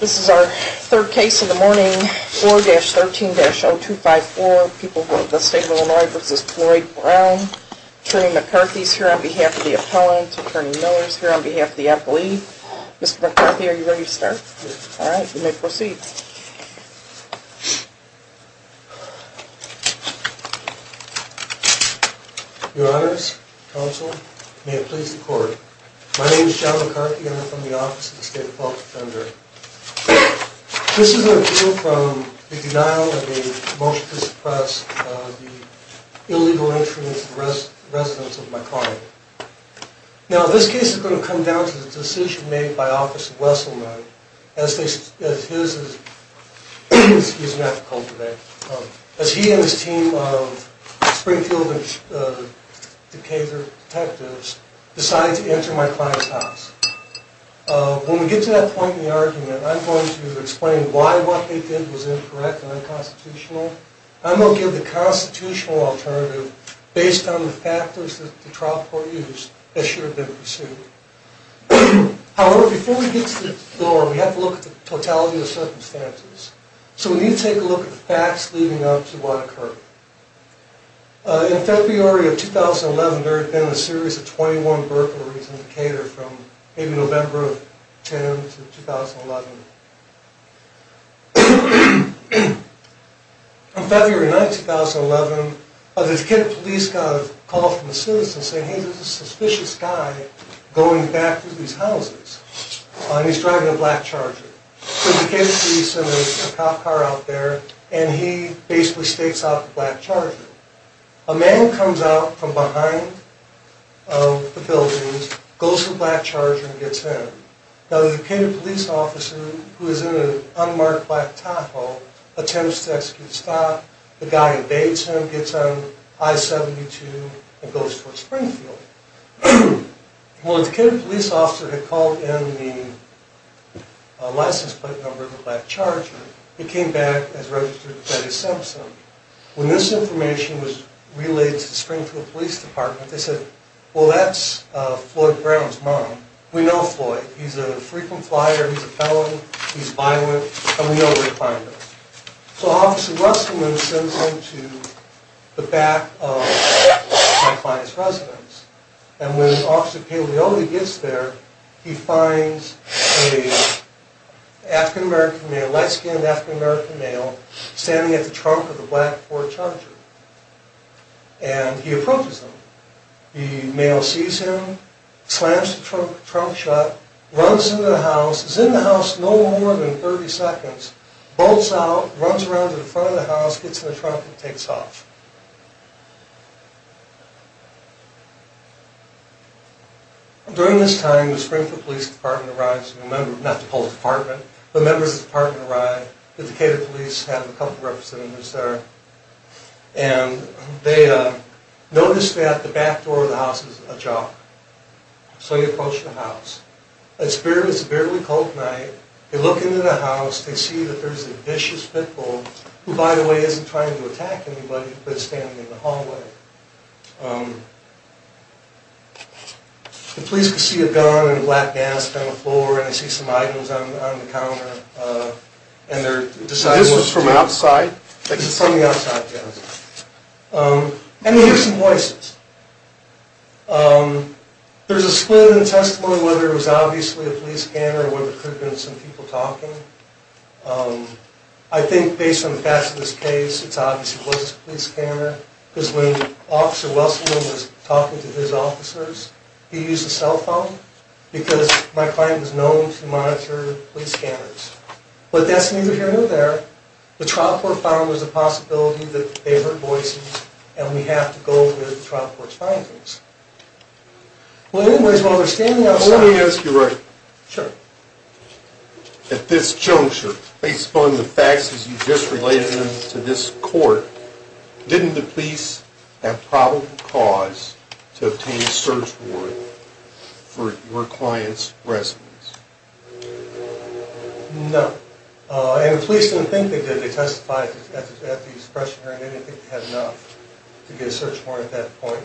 This is our third case in the morning. 4-13-0254. People from the state of Illinois v. Floyd Brown. Attorney McCarthy is here on behalf of the appellant. Attorney Miller is here on behalf of the appellee. Mr. McCarthy, are you ready to start? Yes. Alright, you may proceed. Your honors, counsel, may it please the court. My name is John McCarthy and I'm from the Office of the State of Fault Defender. This is an appeal from the denial of the motion to suppress the illegal entry into the residence of my client. Now this case is going to come down to the decision made by Officer Wesselman as he and his team of Springfield and Decatur detectives decide to enter my client's house. When we get to that point in the argument, I'm going to explain why what they did was incorrect and unconstitutional. I'm going to give the constitutional alternative based on the factors that the trial court used that should have been pursued. However, before we get to the floor, we have to look at the totality of the circumstances. So we need to take a look at the facts leading up to what occurred. In February of 2011, there had been a series of 21 burglaries in Decatur from maybe November of 2010 to 2011. On February 9th, 2011, the Decatur police got a call from a citizen saying, he's a suspicious guy going back to these houses, and he's driving a black Charger. So Decatur police send a cop car out there, and he basically stakes out the black Charger. A man comes out from behind the buildings, goes to the black Charger, and gets him. Now the Decatur police officer, who is in an unmarked black Tahoe, attempts to execute a stop. The guy invades him, gets on I-72, and goes toward Springfield. Well, the Decatur police officer had called in the license plate number of the black Charger. It came back as registered Betty Simpson. When this information was relayed to the Springfield Police Department, they said, well that's Floyd Brown's mom. We know Floyd, he's a frequent flyer, he's a felon, he's violent, and we know where to find him. So Officer Russellman sends him to the back of my client's residence. And when Officer Paglioli gets there, he finds a light-skinned African American male standing at the trunk of the black Ford Charger. And he approaches him. The male sees him, slams the trunk shut, runs into the house, is in the house no more than 30 seconds, bolts out, runs around to the front of the house, gets in the trunk, and takes off. During this time, the Springfield Police Department arrives, not the whole department, but members of the department arrive. The Decatur police have a couple of representatives there. And they notice that the back door of the house is ajar. So they approach the house. It's a very cold night. They look into the house. They see that there's a vicious pickle, who, by the way, isn't trying to attack anybody, but is standing in the hallway. The police can see a gun and a black mask on the floor, and they see some items on the counter. And they're deciding what to do. So this is from outside? This is from the outside, yes. And they hear some voices. There's a split in the testimony, whether it was obviously a police scanner or whether it could have been some people talking. I think, based on the facts of this case, it obviously was a police scanner, because when Officer Wesselman was talking to his officers, he used a cell phone, because my client was known to monitor police scanners. But that's neither here nor there. The trial court found there's a possibility that they heard voices, and we have to go with the trial court's findings. Well, anyways, while we're standing outside... Let me ask you a question. Sure. At this juncture, based upon the facts as you just related them to this court, didn't the police have probable cause to obtain a search warrant for your client's residence? No. And the police didn't think they did. They testified at the expression hearing. They didn't think they had enough to get a search warrant at that point.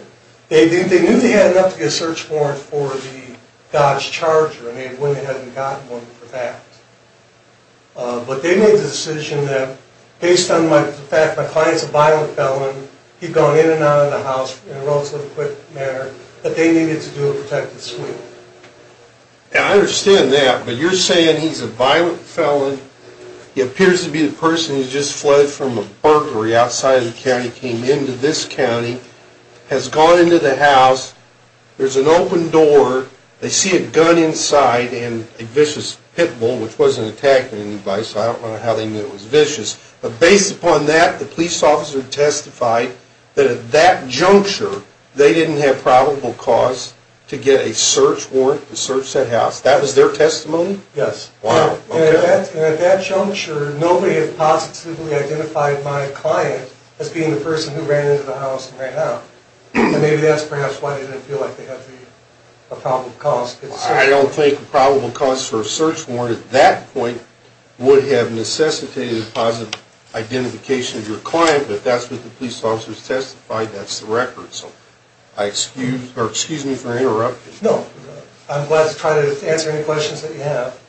They knew they had enough to get a search warrant for the Dodge Charger. I mean, when they hadn't gotten one for that. But they made the decision that, based on the fact that my client's a violent felon, he'd gone in and out of the house in a relatively quick manner, that they needed to do a protective sweep. And I understand that, but you're saying he's a violent felon, he appears to be the person who just fled from a burglary outside of the county, came into this county, has gone into the house, there's an open door, they see a gun inside and a vicious pit bull, which wasn't attacked by anybody, so I don't know how they knew it was vicious. But based upon that, the police officer testified that at that juncture, they didn't have probable cause to get a search warrant to search that house. That was their testimony? Yes. Wow. And at that juncture, nobody had positively identified my client as being the person who ran into the house and ran out. And maybe that's perhaps why they didn't feel like they had a probable cause. I don't think a probable cause for a search warrant at that point would have necessitated a positive identification of your client, but that's what the police officers testified, that's the record. So, excuse me for interrupting. No, I'm glad to try to answer any questions that you have.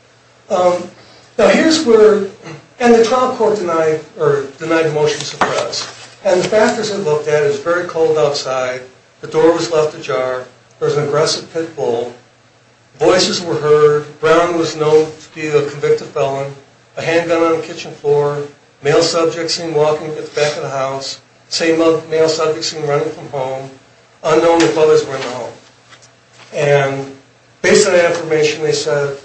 Now, here's where, and the trial court denied the motion to suppress. And the factors they looked at, it was very cold outside, the door was left ajar, there was an aggressive pit bull, voices were heard, Brown was known to be the convicted felon, a handgun on the kitchen floor, male subjects seen walking at the back of the house, same male subjects seen running from home, unknown if others were in the home. And based on that information, they said,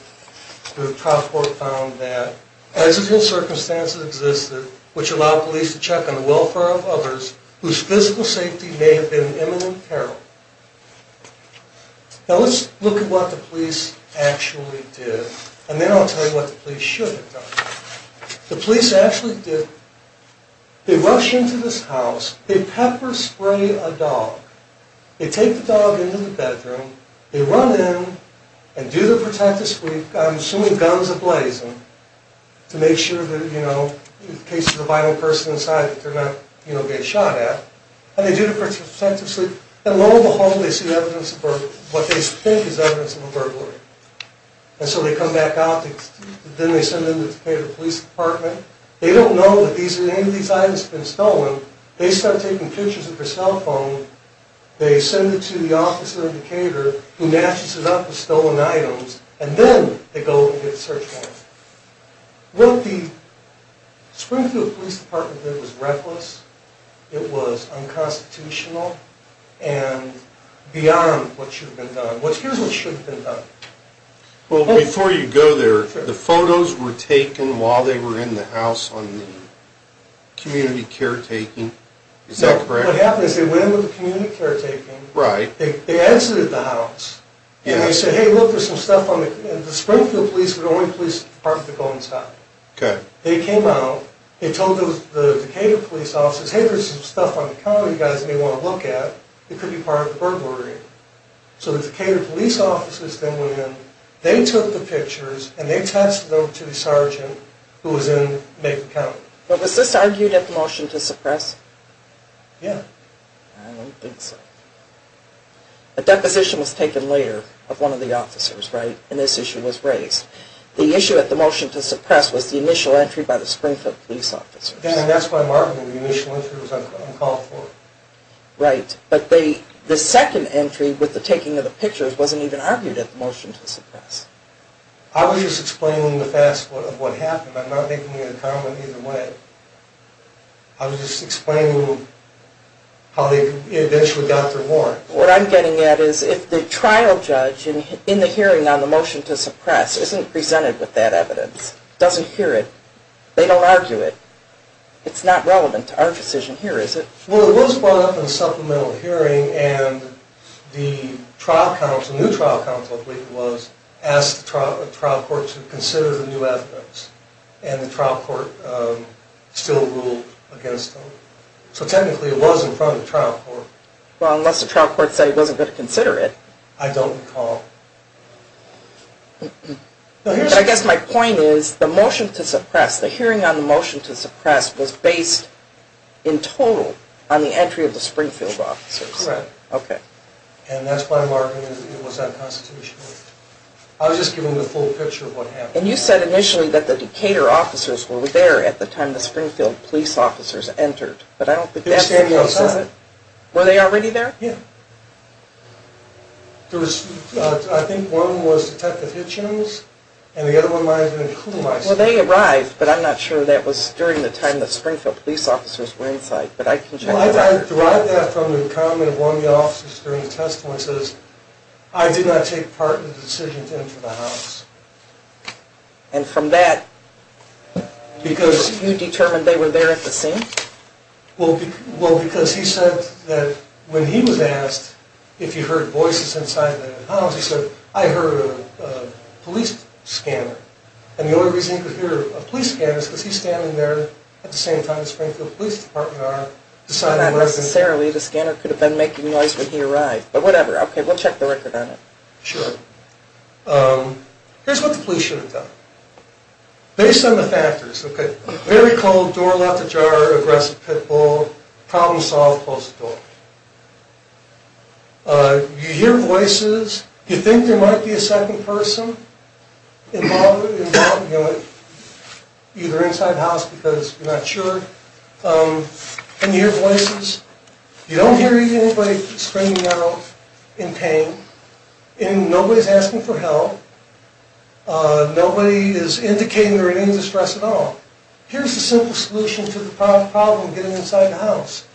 the trial court found that residual circumstances existed which allowed police to check on the welfare of others whose physical safety may have been in imminent peril. Now, let's look at what the police actually did, and then I'll tell you what the police should have done. The police actually did, they rushed into this house, they pepper spray a dog, they take the dog into the bedroom, they run in, and do the protective sweep, I'm assuming guns ablazing, to make sure that, you know, in the case of the violent person inside, that they're not, you know, getting shot at, and they do the protective sweep, and lo and behold, they see evidence of burglary, what they think is evidence of a burglary. And so they come back out, then they send them to the Decatur Police Department, they don't know that any of these items have been stolen, they start taking pictures with their cell phone, they send it to the officer in Decatur who matches it up with stolen items, and then they go and get a search warrant. What the Springfield Police Department did was reckless, it was unconstitutional, and beyond what should have been done. Here's what should have been done. Well, before you go there, the photos were taken while they were in the house on the community caretaking, is that correct? Correct. What happened is they went in with the community caretaking, they entered the house, and they said, hey, look, there's some stuff on the, and the Springfield Police were the only police department to go inside. Okay. They came out, they told the Decatur police officers, hey, there's some stuff on the counter you guys may want to look at, it could be part of the burglary. So the Decatur police officers then went in, they took the pictures, and they attached them to the sergeant who was in Macon County. But was this argued at the motion to suppress? Yeah. I don't think so. A deposition was taken later of one of the officers, right, and this issue was raised. The issue at the motion to suppress was the initial entry by the Springfield Police officers. Again, that's why I'm arguing the initial entry was uncalled for. Right. But the second entry with the taking of the pictures wasn't even argued at the motion to suppress. I was just explaining the fast forward of what happened. I'm not making any comment either way. I'm just explaining how they eventually got their warrant. What I'm getting at is if the trial judge in the hearing on the motion to suppress isn't presented with that evidence, doesn't hear it, they don't argue it, it's not relevant to our decision here, is it? Well, it was brought up in the supplemental hearing, and the new trial counsel, I believe it was, asked the trial court to consider the new evidence, and the trial court still ruled against them. So technically it was in front of the trial court. Well, unless the trial court said it wasn't going to consider it. I don't recall. I guess my point is the motion to suppress, the hearing on the motion to suppress, was based in total on the entry of the Springfield officers. Correct. Okay. And that's why I'm arguing it was unconstitutional. I was just giving the full picture of what happened. And you said initially that the Decatur officers were there at the time the Springfield police officers entered, but I don't think that's the case, is it? They were standing outside. Were they already there? Yeah. There was, I think one was Detective Hitchens, and the other one might have been a crew member. Well, they arrived, but I'm not sure that was during the time the Springfield police officers were inside. Well, I derived that from the comment of one of the officers during the testimony that says, I did not take part in the decision to enter the house. And from that, because you determined they were there at the scene? Well, because he said that when he was asked if he heard voices inside the house, he said, I heard a police scanner. And the only reason he could hear a police scanner is because he's standing there at the same time as the Springfield police department are. Not necessarily. The scanner could have been making noise when he arrived. But whatever. Okay. We'll check the record on it. Sure. Here's what the police should have done. Based on the factors, okay, very cold, door left ajar, aggressive pit bull, problem solved, closed the door. You hear voices. You think there might be a second person involved, either inside the house because you're not sure. Can you hear voices? You don't hear anybody screaming out in pain. And nobody's asking for help. Nobody is indicating they're in any distress at all. Here's the simple solution to the problem getting inside the house.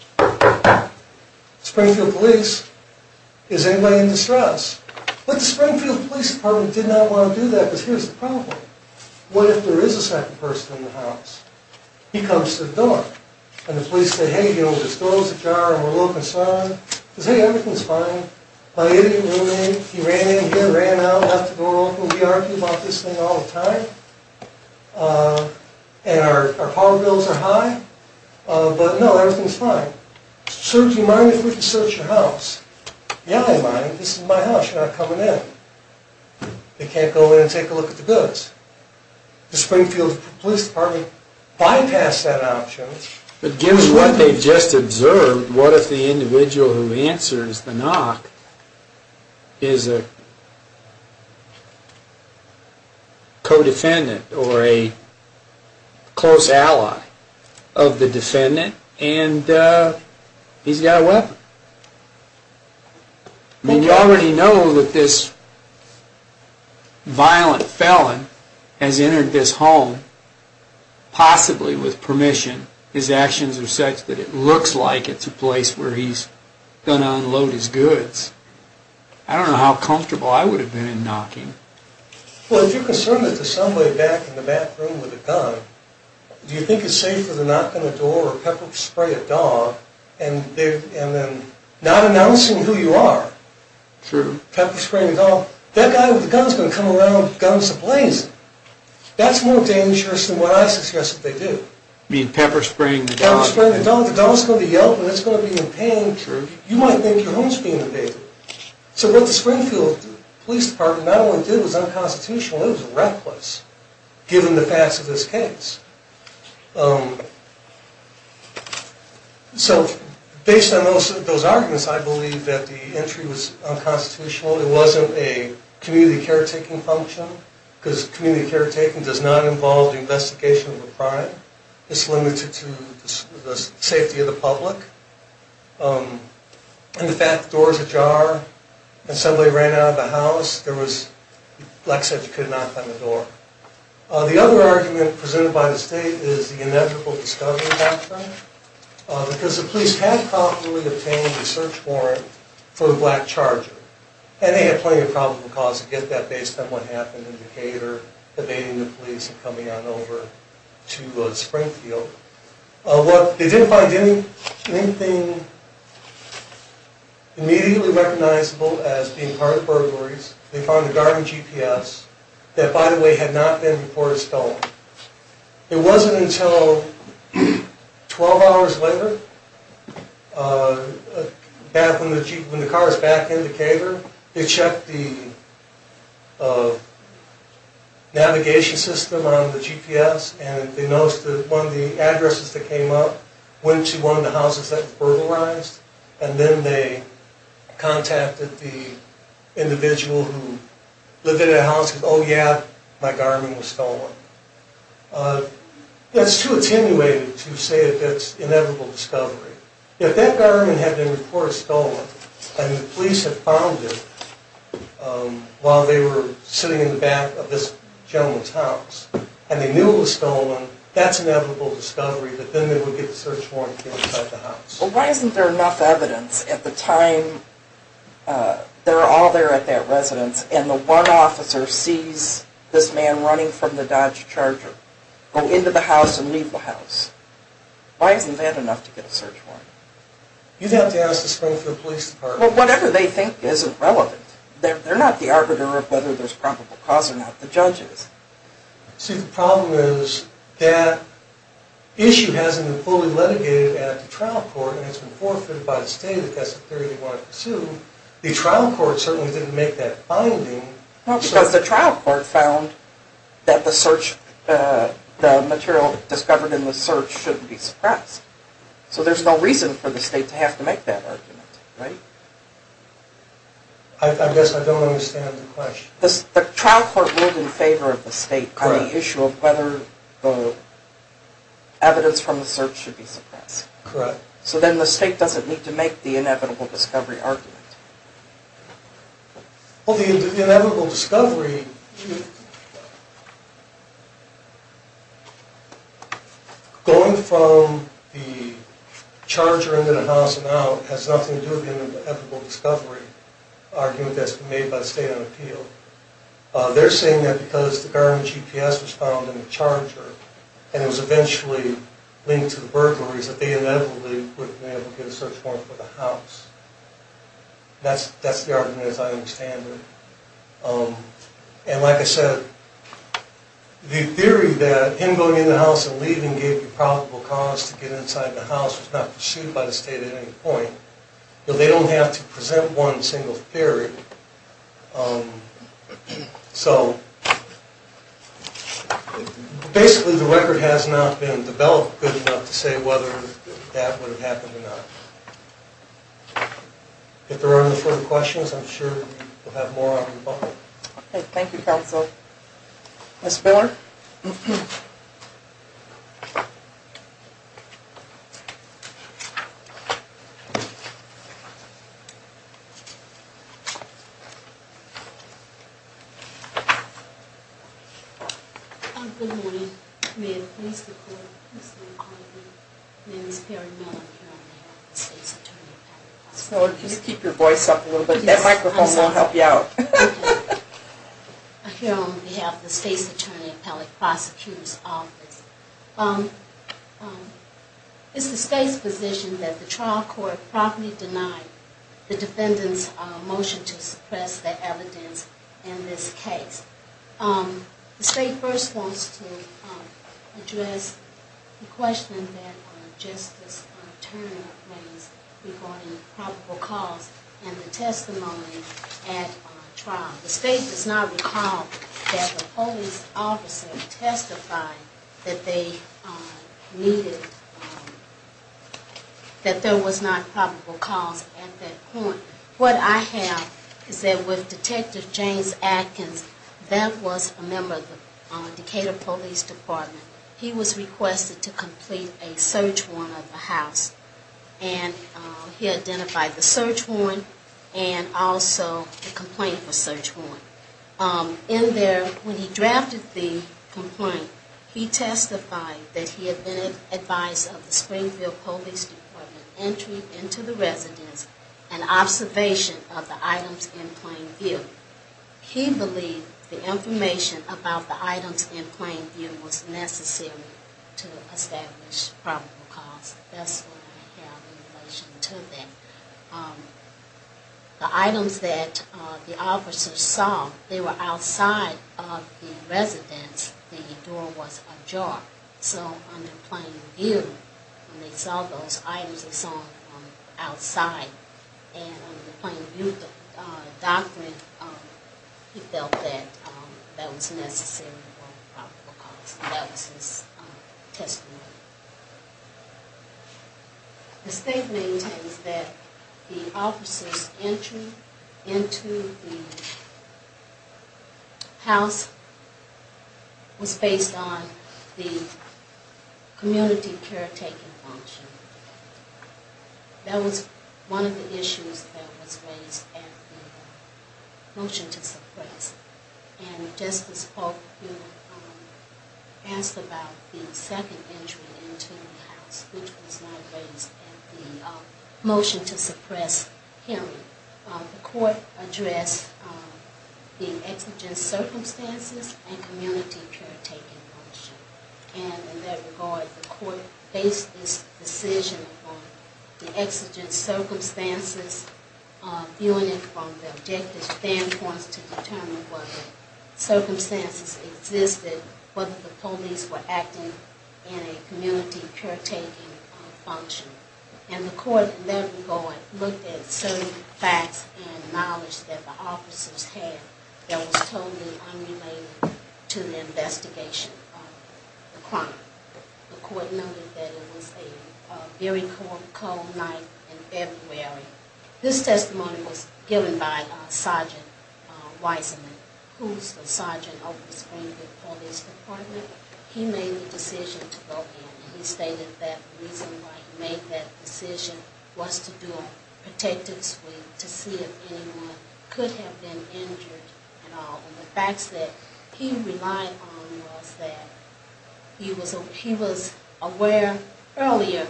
Springfield police. Is anybody in distress? But the Springfield police department did not want to do that because here's the problem. What if there is a second person in the house? He comes to the door. And the police say, hey, he opens the door, he's ajar, and we're a little concerned. He says, hey, everything's fine. He ran in, he ran out, left the door open. We argue about this thing all the time. And our car bills are high. But, no, everything's fine. Sir, do you mind if we can search your house? Yeah, I don't mind. This is my house. You're not coming in. They can't go in and take a look at the goods. The Springfield police department bypassed that option. But given what they've just observed, what if the individual who answers the knock is a co-defendant or a close ally of the defendant and he's got a weapon? You already know that this violent felon has entered this home possibly with permission. His actions are such that it looks like it's a place where he's going to unload his goods. I don't know how comfortable I would have been in knocking. Well, if you're concerned that there's somebody back in the bathroom with a gun, do you think it's safer to knock on the door or pepper spray a dog and then not announcing who you are? True. Pepper spraying a dog? That guy with a gun's going to come around with guns to blaze him. That's more dangerous than what I suggest that they do. You mean pepper spraying the dog? Pepper spraying the dog. The dog's going to be yelled at. It's going to be in pain. True. You might think your home's being invaded. So what the Springfield Police Department not only did was unconstitutional, it was reckless given the facts of this case. So based on those arguments, I believe that the entry was unconstitutional. It wasn't a community caretaking function because community caretaking does not involve the investigation of a crime. It's limited to the safety of the public. And the fact the door's ajar and somebody ran out of the house, there was, like I said, you could knock on the door. The other argument presented by the state is the inevitable discovery factor because the police had properly obtained a search warrant for the black charger, and they had plenty of probable cause to get that based on what happened in Decatur, evading the police and coming on over to Springfield. They didn't find anything immediately recognizable as being part of burglaries. They found a garden GPS that, by the way, had not been reported stolen. It wasn't until 12 hours later, when the car was back in Decatur, they checked the navigation system on the GPS and they noticed that one of the addresses that came up went to one of the houses that was burglarized, and then they contacted the individual who lived in that house and said, oh, yeah, my Garmin was stolen. That's too attenuated to say that it's inevitable discovery. If that Garmin had been reported stolen and the police had found it while they were sitting in the back of this gentleman's house and they knew it was stolen, that's inevitable discovery that then they would get a search warrant to get inside the house. Well, why isn't there enough evidence at the time they're all there at that residence and the one officer sees this man running from the Dodge Charger go into the house and leave the house? Why isn't that enough to get a search warrant? You'd have to ask the Springfield Police Department. Well, whatever they think isn't relevant. They're not the arbiter of whether there's probable cause or not. The judge is. See, the problem is that issue hasn't been fully litigated at the trial court and it's been forfeited by the state if that's the theory they want to pursue. The trial court certainly didn't make that finding. Well, because the trial court found that the material discovered in the search shouldn't be suppressed. So there's no reason for the state to have to make that argument, right? I guess I don't understand the question. The trial court ruled in favor of the state on the issue of whether the evidence from the search should be suppressed. Correct. So then the state doesn't need to make the inevitable discovery argument. Well, the inevitable discovery... Going from the charger into the house and out has nothing to do with the inevitable discovery argument that's been made by the state on appeal. They're saying that because the Garmin GPS was found in the charger and it was eventually linked to the burglaries, that they inevitably wouldn't be able to get a search warrant for the house. That's the argument as I understand it. And like I said, the theory that him going in the house and leaving gave you probable cause to get inside the house was not pursued by the state at any point. They don't have to present one single theory. Basically, the record has not been developed good enough to say whether that would have happened or not. If there are any further questions, I'm sure we'll have more on the phone. Okay, thank you, counsel. Ms. Miller? Good morning. May I please be called? My name is Perry Miller. I'm here on behalf of the State's Attorney Appellate Prosecutor's Office. Ms. Miller, can you keep your voice up a little bit? That microphone will help you out. I'm here on behalf of the State's Attorney Appellate Prosecutor's Office. It's the state's position that the trial court probably denied the defendant's motion to suppress the evidence in this case. The state first wants to address the question that Justice Turner raised regarding probable cause and the testimony at trial. The state does not recall that the police officer testified that there was not probable cause at that point. What I have is that with Detective James Adkins, that was a member of the Decatur Police Department. He was requested to complete a search warrant of the house. And he identified the search warrant and also the complaint for search warrant. In there, when he drafted the complaint, he testified that he had been advised of the Springfield Police Department entry into the residence and observation of the items in plain view. He believed the information about the items in plain view was necessary to establish probable cause. That's what I have in relation to that. The items that the officers saw, they were outside of the residence. The door was ajar. So on the plain view, when they saw those items, they saw them from outside. And on the plain view document, he felt that that was necessary for probable cause. That was his testimony. The state maintains that the officers' entry into the house was based on the community caretaking function. That was one of the issues that was raised at the motion to suppress. And Justice Polk, you asked about the second entry into the house, which was not raised at the motion to suppress him. The court addressed the exigent circumstances and community caretaking function. And in that regard, the court based this decision upon the exigent circumstances, viewing it from the objective standpoints to determine whether circumstances existed, whether the police were acting in a community caretaking function. And the court, in that regard, looked at certain facts and knowledge that the officers had that was totally unrelated to the investigation of the crime. The court noted that it was a very cold night in February. This testimony was given by Sergeant Wiseman, who's the sergeant of the Springfield Police Department. He made the decision to go in, and he stated that the reason why he made that decision was to do a protective sweep to see if anyone could have been injured at all. And the facts that he relied on was that he was aware earlier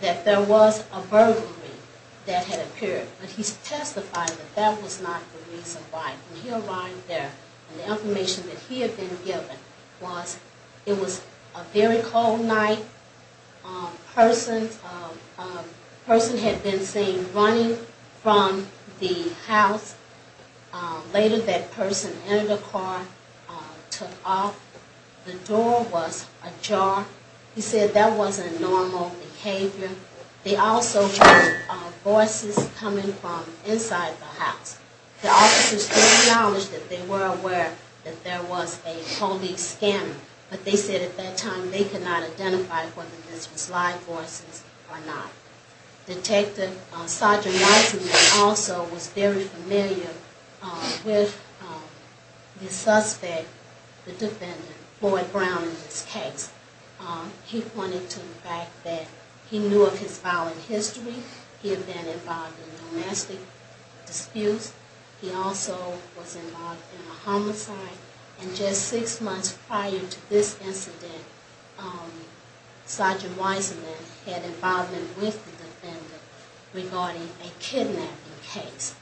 that there was a burglary that had appeared. But he testified that that was not the reason why he arrived there. And the information that he had been given was it was a very cold night. A person had been seen running from the house. Later, that person entered a car, took off. The door was ajar. He said that wasn't normal behavior. They also heard voices coming from inside the house. The officers did acknowledge that they were aware that there was a police scanner, but they said at that time they could not identify whether this was live voices or not. Detective Sergeant Wiseman also was very familiar with the suspect, the defendant, Floyd Brown, in this case. He pointed to the fact that he knew of his violent history. He had been involved in domestic disputes. He also was involved in a homicide. And just six months prior to this incident, Sergeant Wiseman had involvement with the defendant regarding a kidnapping case.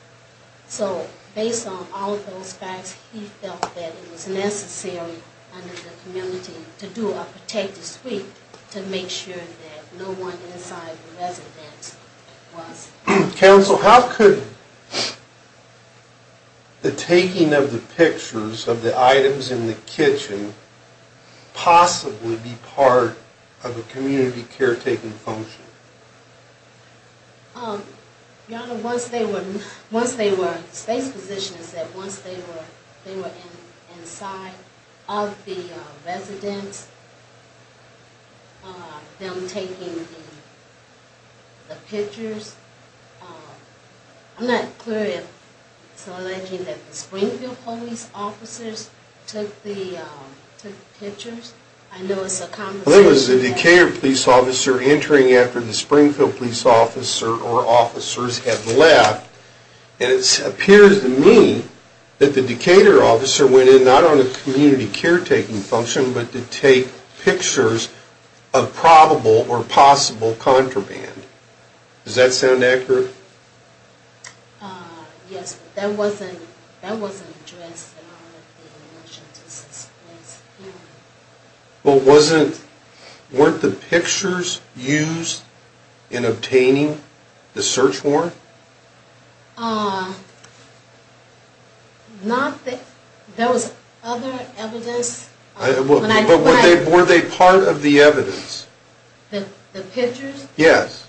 So based on all of those facts, he felt that it was necessary under the community to do a protective sweep to make sure that no one inside the residence was. Counsel, how could the taking of the pictures of the items in the kitchen possibly be part of a community caretaking function? Your Honor, once they were, once they were, the state's position is that once they were inside of the residence, them taking the pictures. I'm not clear if it's alleged that the Springfield Police officers took the pictures. There was a Decatur police officer entering after the Springfield Police officer or officers had left. And it appears to me that the Decatur officer went in not on a community caretaking function, but to take pictures of probable or possible contraband. Does that sound accurate? Yes, but that wasn't addressed in the motion to suspend. But wasn't, weren't the pictures used in obtaining the search warrant? Not that, there was other evidence. But were they part of the evidence? The pictures? Yes.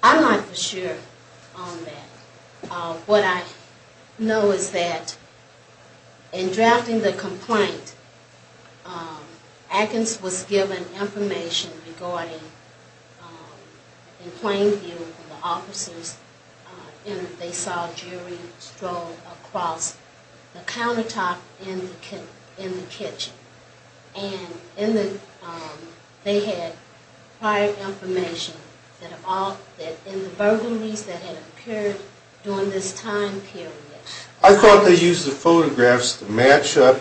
I'm not for sure on that. What I know is that in drafting the complaint, Atkins was given information regarding, in plain view, when the officers entered, they saw a jury stroll across the countertop in the kitchen. And they had prior information that in the burglaries that had occurred during this time period. I thought they used the photographs to match up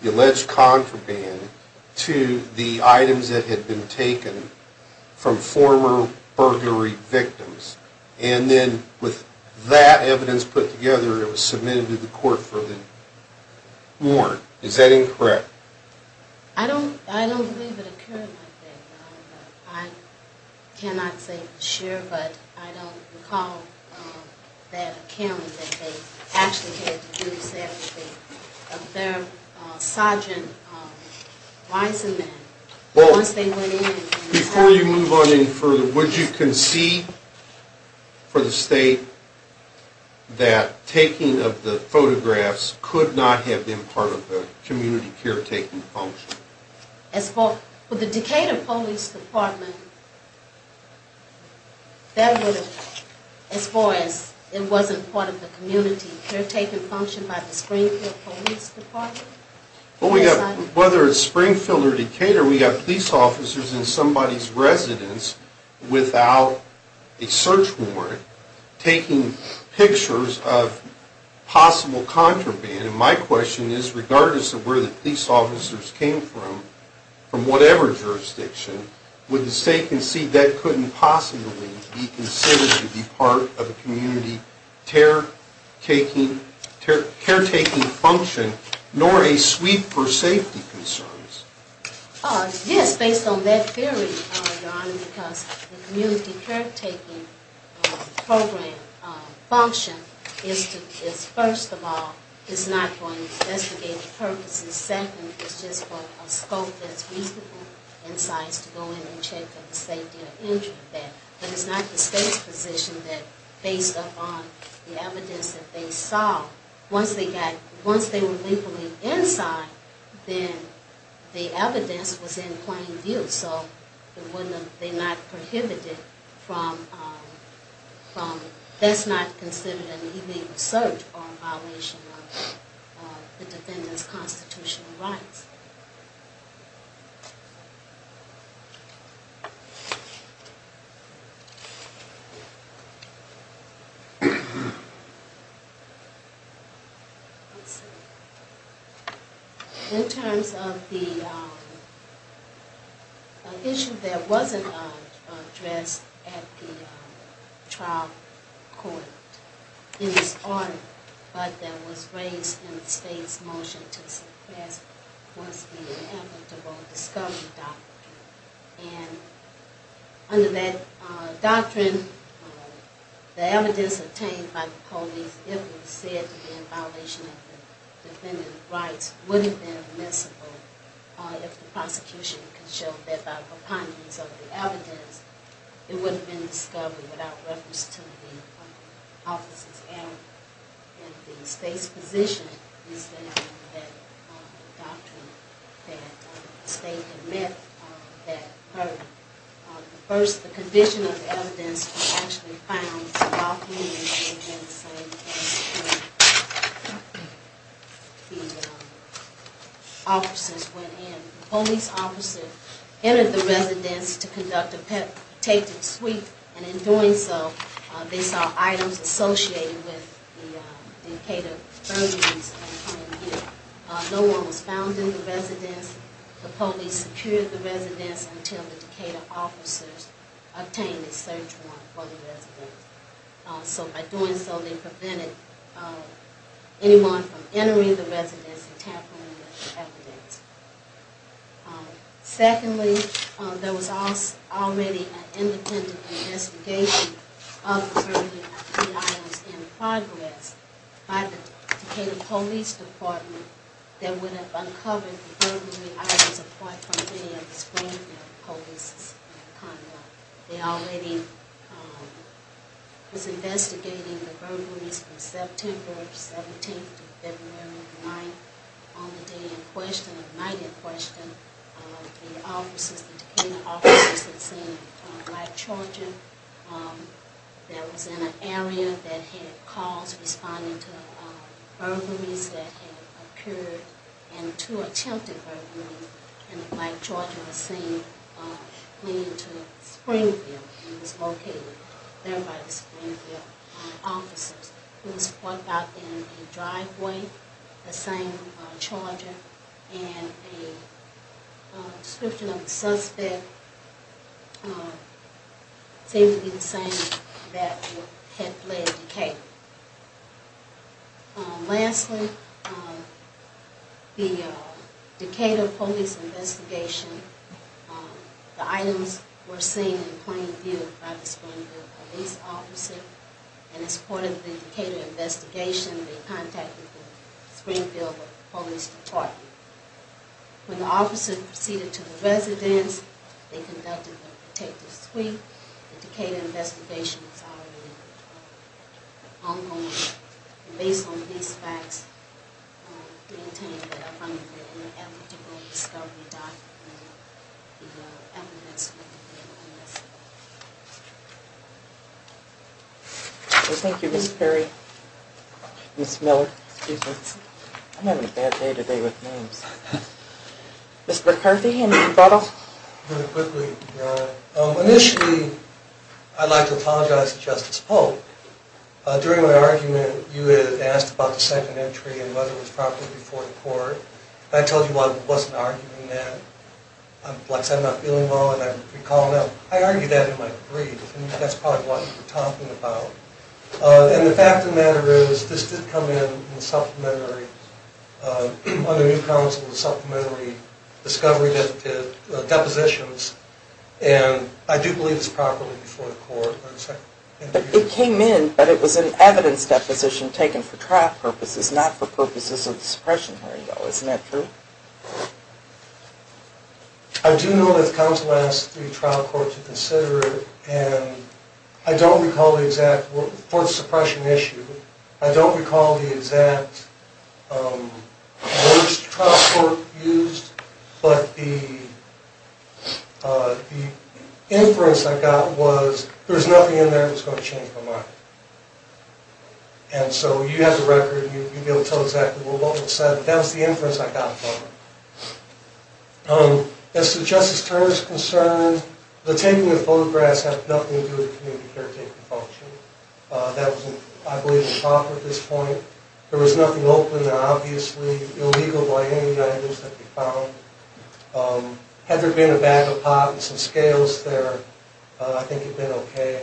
the alleged contraband to the items that had been taken from former burglary victims. And then with that evidence put together, it was submitted to the court for the warrant. Is that incorrect? I don't, I don't believe it occurred like that. I cannot say for sure, but I don't recall that account that they actually had the jury set up. Their sergeant, Risenman, once they went in. Before you move on any further, would you concede for the state that taking of the photographs could not have been part of the community caretaking function? For the Decatur Police Department, that would have, as far as it wasn't part of the community caretaking function by the Springfield Police Department? Whether it's Springfield or Decatur, we have police officers in somebody's residence without a search warrant taking pictures of possible contraband. And my question is, regardless of where the police officers came from, from whatever jurisdiction, would the state concede that couldn't possibly be considered to be part of the community caretaking function, nor a sweep for safety concerns? Yes, based on that theory, Your Honor, because the community caretaking program function is to, is first of all, it's not going to investigate purposes. Second, it's just for a scope that's reasonable in size to go in and check for the safety or injury of that. But it's not the state's position that based upon the evidence that they saw, once they got, once they were legally inside, then the evidence was in plain view. So it wouldn't have, they're not prohibited from, that's not considered an illegal search or a violation of the defendant's constitutional rights. In terms of the issue that wasn't addressed at the trial court in this order, but that was raised in the state's motion to suppress, was the inevitable discovery doctrine. And under that doctrine, the evidence obtained by the police, if it was said to be in violation of the defendant's rights, wouldn't have been admissible if the prosecution could show that by the abundance of the evidence, it wouldn't have been discovered without reference to the officer's alibi. And the state's position is that, that doctrine that the state had met, that first, the condition of the evidence was actually found, so all the evidence was in the same place where the officers went in. The police officer entered the residence to conduct a petitive sweep, and in doing so, they saw items associated with the Decatur burglaries in plain view. No one was found in the residence, the police secured the residence until the Decatur officers obtained a search warrant for the residence. So by doing so, they prevented anyone from entering the residence and tampering with the evidence. Secondly, there was already an independent investigation of the burglary of three items in progress by the Decatur Police Department that would have uncovered the burglary items apart from many of the screened-out police conduct. They already was investigating the burglaries from September 17th to February 9th. On the day in question, the night in question, the officers, the Decatur officers had seen Mike Georgian. There was an area that had calls responding to burglaries that had occurred and two attempted burglaries, and Mike Georgian was seen leading to Springfield and was located there by the Springfield officers. He was parked out in a driveway, the same Charger, and the description of the suspect seemed to be the same that had led to Decatur. Lastly, the Decatur police investigation, the items were seen in plain view by the Springfield police officers, and as part of the Decatur investigation, they contacted the Springfield Police Department. When the officers proceeded to the residence, they conducted a protective sweep. The Decatur investigation was already ongoing, and based on these facts, we intend to find an eligible discovery document and the evidence that could be of interest. Thank you, Ms. Perry, Ms. Miller. I'm having a bad day today with names. Mr. McCarthy, any thought? Initially, I'd like to apologize to Justice Polk. During my argument, you had asked about the second entry and whether it was proper before the court. I told you I wasn't arguing that. I'm not feeling well, and I recall now, I argued that in my brief, and that's probably what you were talking about. And the fact of the matter is, this did come in on the New Counsel's supplementary discovery depositions, and I do believe it's proper before the court. It came in, but it was an evidence deposition taken for trial purposes, not for purposes of suppression, isn't that true? I do know that the counsel asked the trial court to consider it, and I don't recall the exact, for the suppression issue, I don't recall the exact words the trial court used, but the inference I got was, there's nothing in there that's going to change my mind. And so, you have the record, and you'll be able to tell exactly what was said. That was the inference I got from it. As to Justice Turner's concern, the taking of the photographs had nothing to do with the community care taking function. That was, I believe, improper at this point. There was nothing open there, obviously, illegal by any means that could be found. Had there been a bag of pot and some scales there, I think it'd been okay.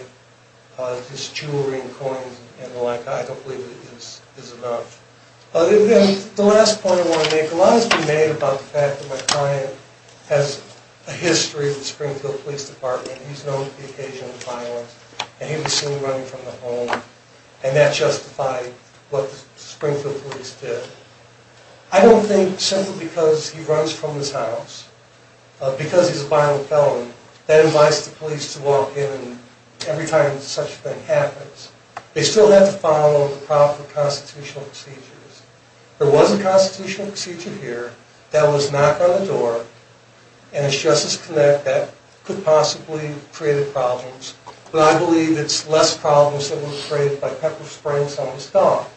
His jewelry and coins and the like, I don't believe it is enough. The last point I want to make, a lot has been made about the fact that my client has a history with Springfield Police Department, he's known for the occasion of violence, and he was seen running from the home, and that justified what the Springfield Police did. I don't think, simply because he runs from his house, because he's a violent felon, that invites the police to walk in every time such a thing happens. They still have to follow the proper constitutional procedures. There was a constitutional procedure here that was knocked on the door, and it's Justice Connett that could possibly create the problems, but I believe it's less problems that were created by Pepper Springs on his dog.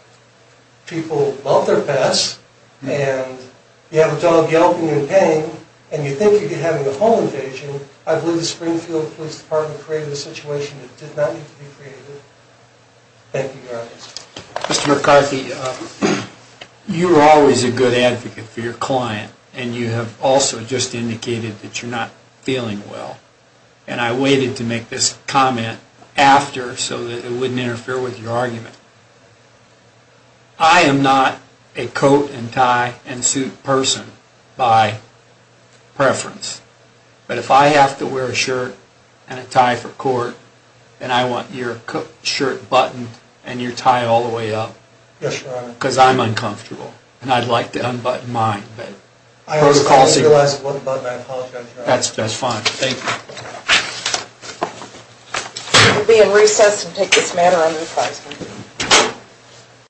People love their pets, and you have a dog yelping in pain, and you think you're having a home invasion, I believe the Springfield Police Department created a situation that did not need to be created. Thank you, Your Honor. Mr. McCarthy, you were always a good advocate for your client, and you have also just indicated that you're not feeling well, and I waited to make this comment after so that it wouldn't interfere with your argument. I am not a coat-and-tie-and-suit person by preference, but if I have to wear a shirt and a tie for court, then I want your shirt buttoned and your tie all the way up. Yes, Your Honor. Because I'm uncomfortable, and I'd like to unbutton mine. I only realized it wasn't buttoned. I apologize, Your Honor. That's fine. Thank you. We'll be in recess and take this matter under the President.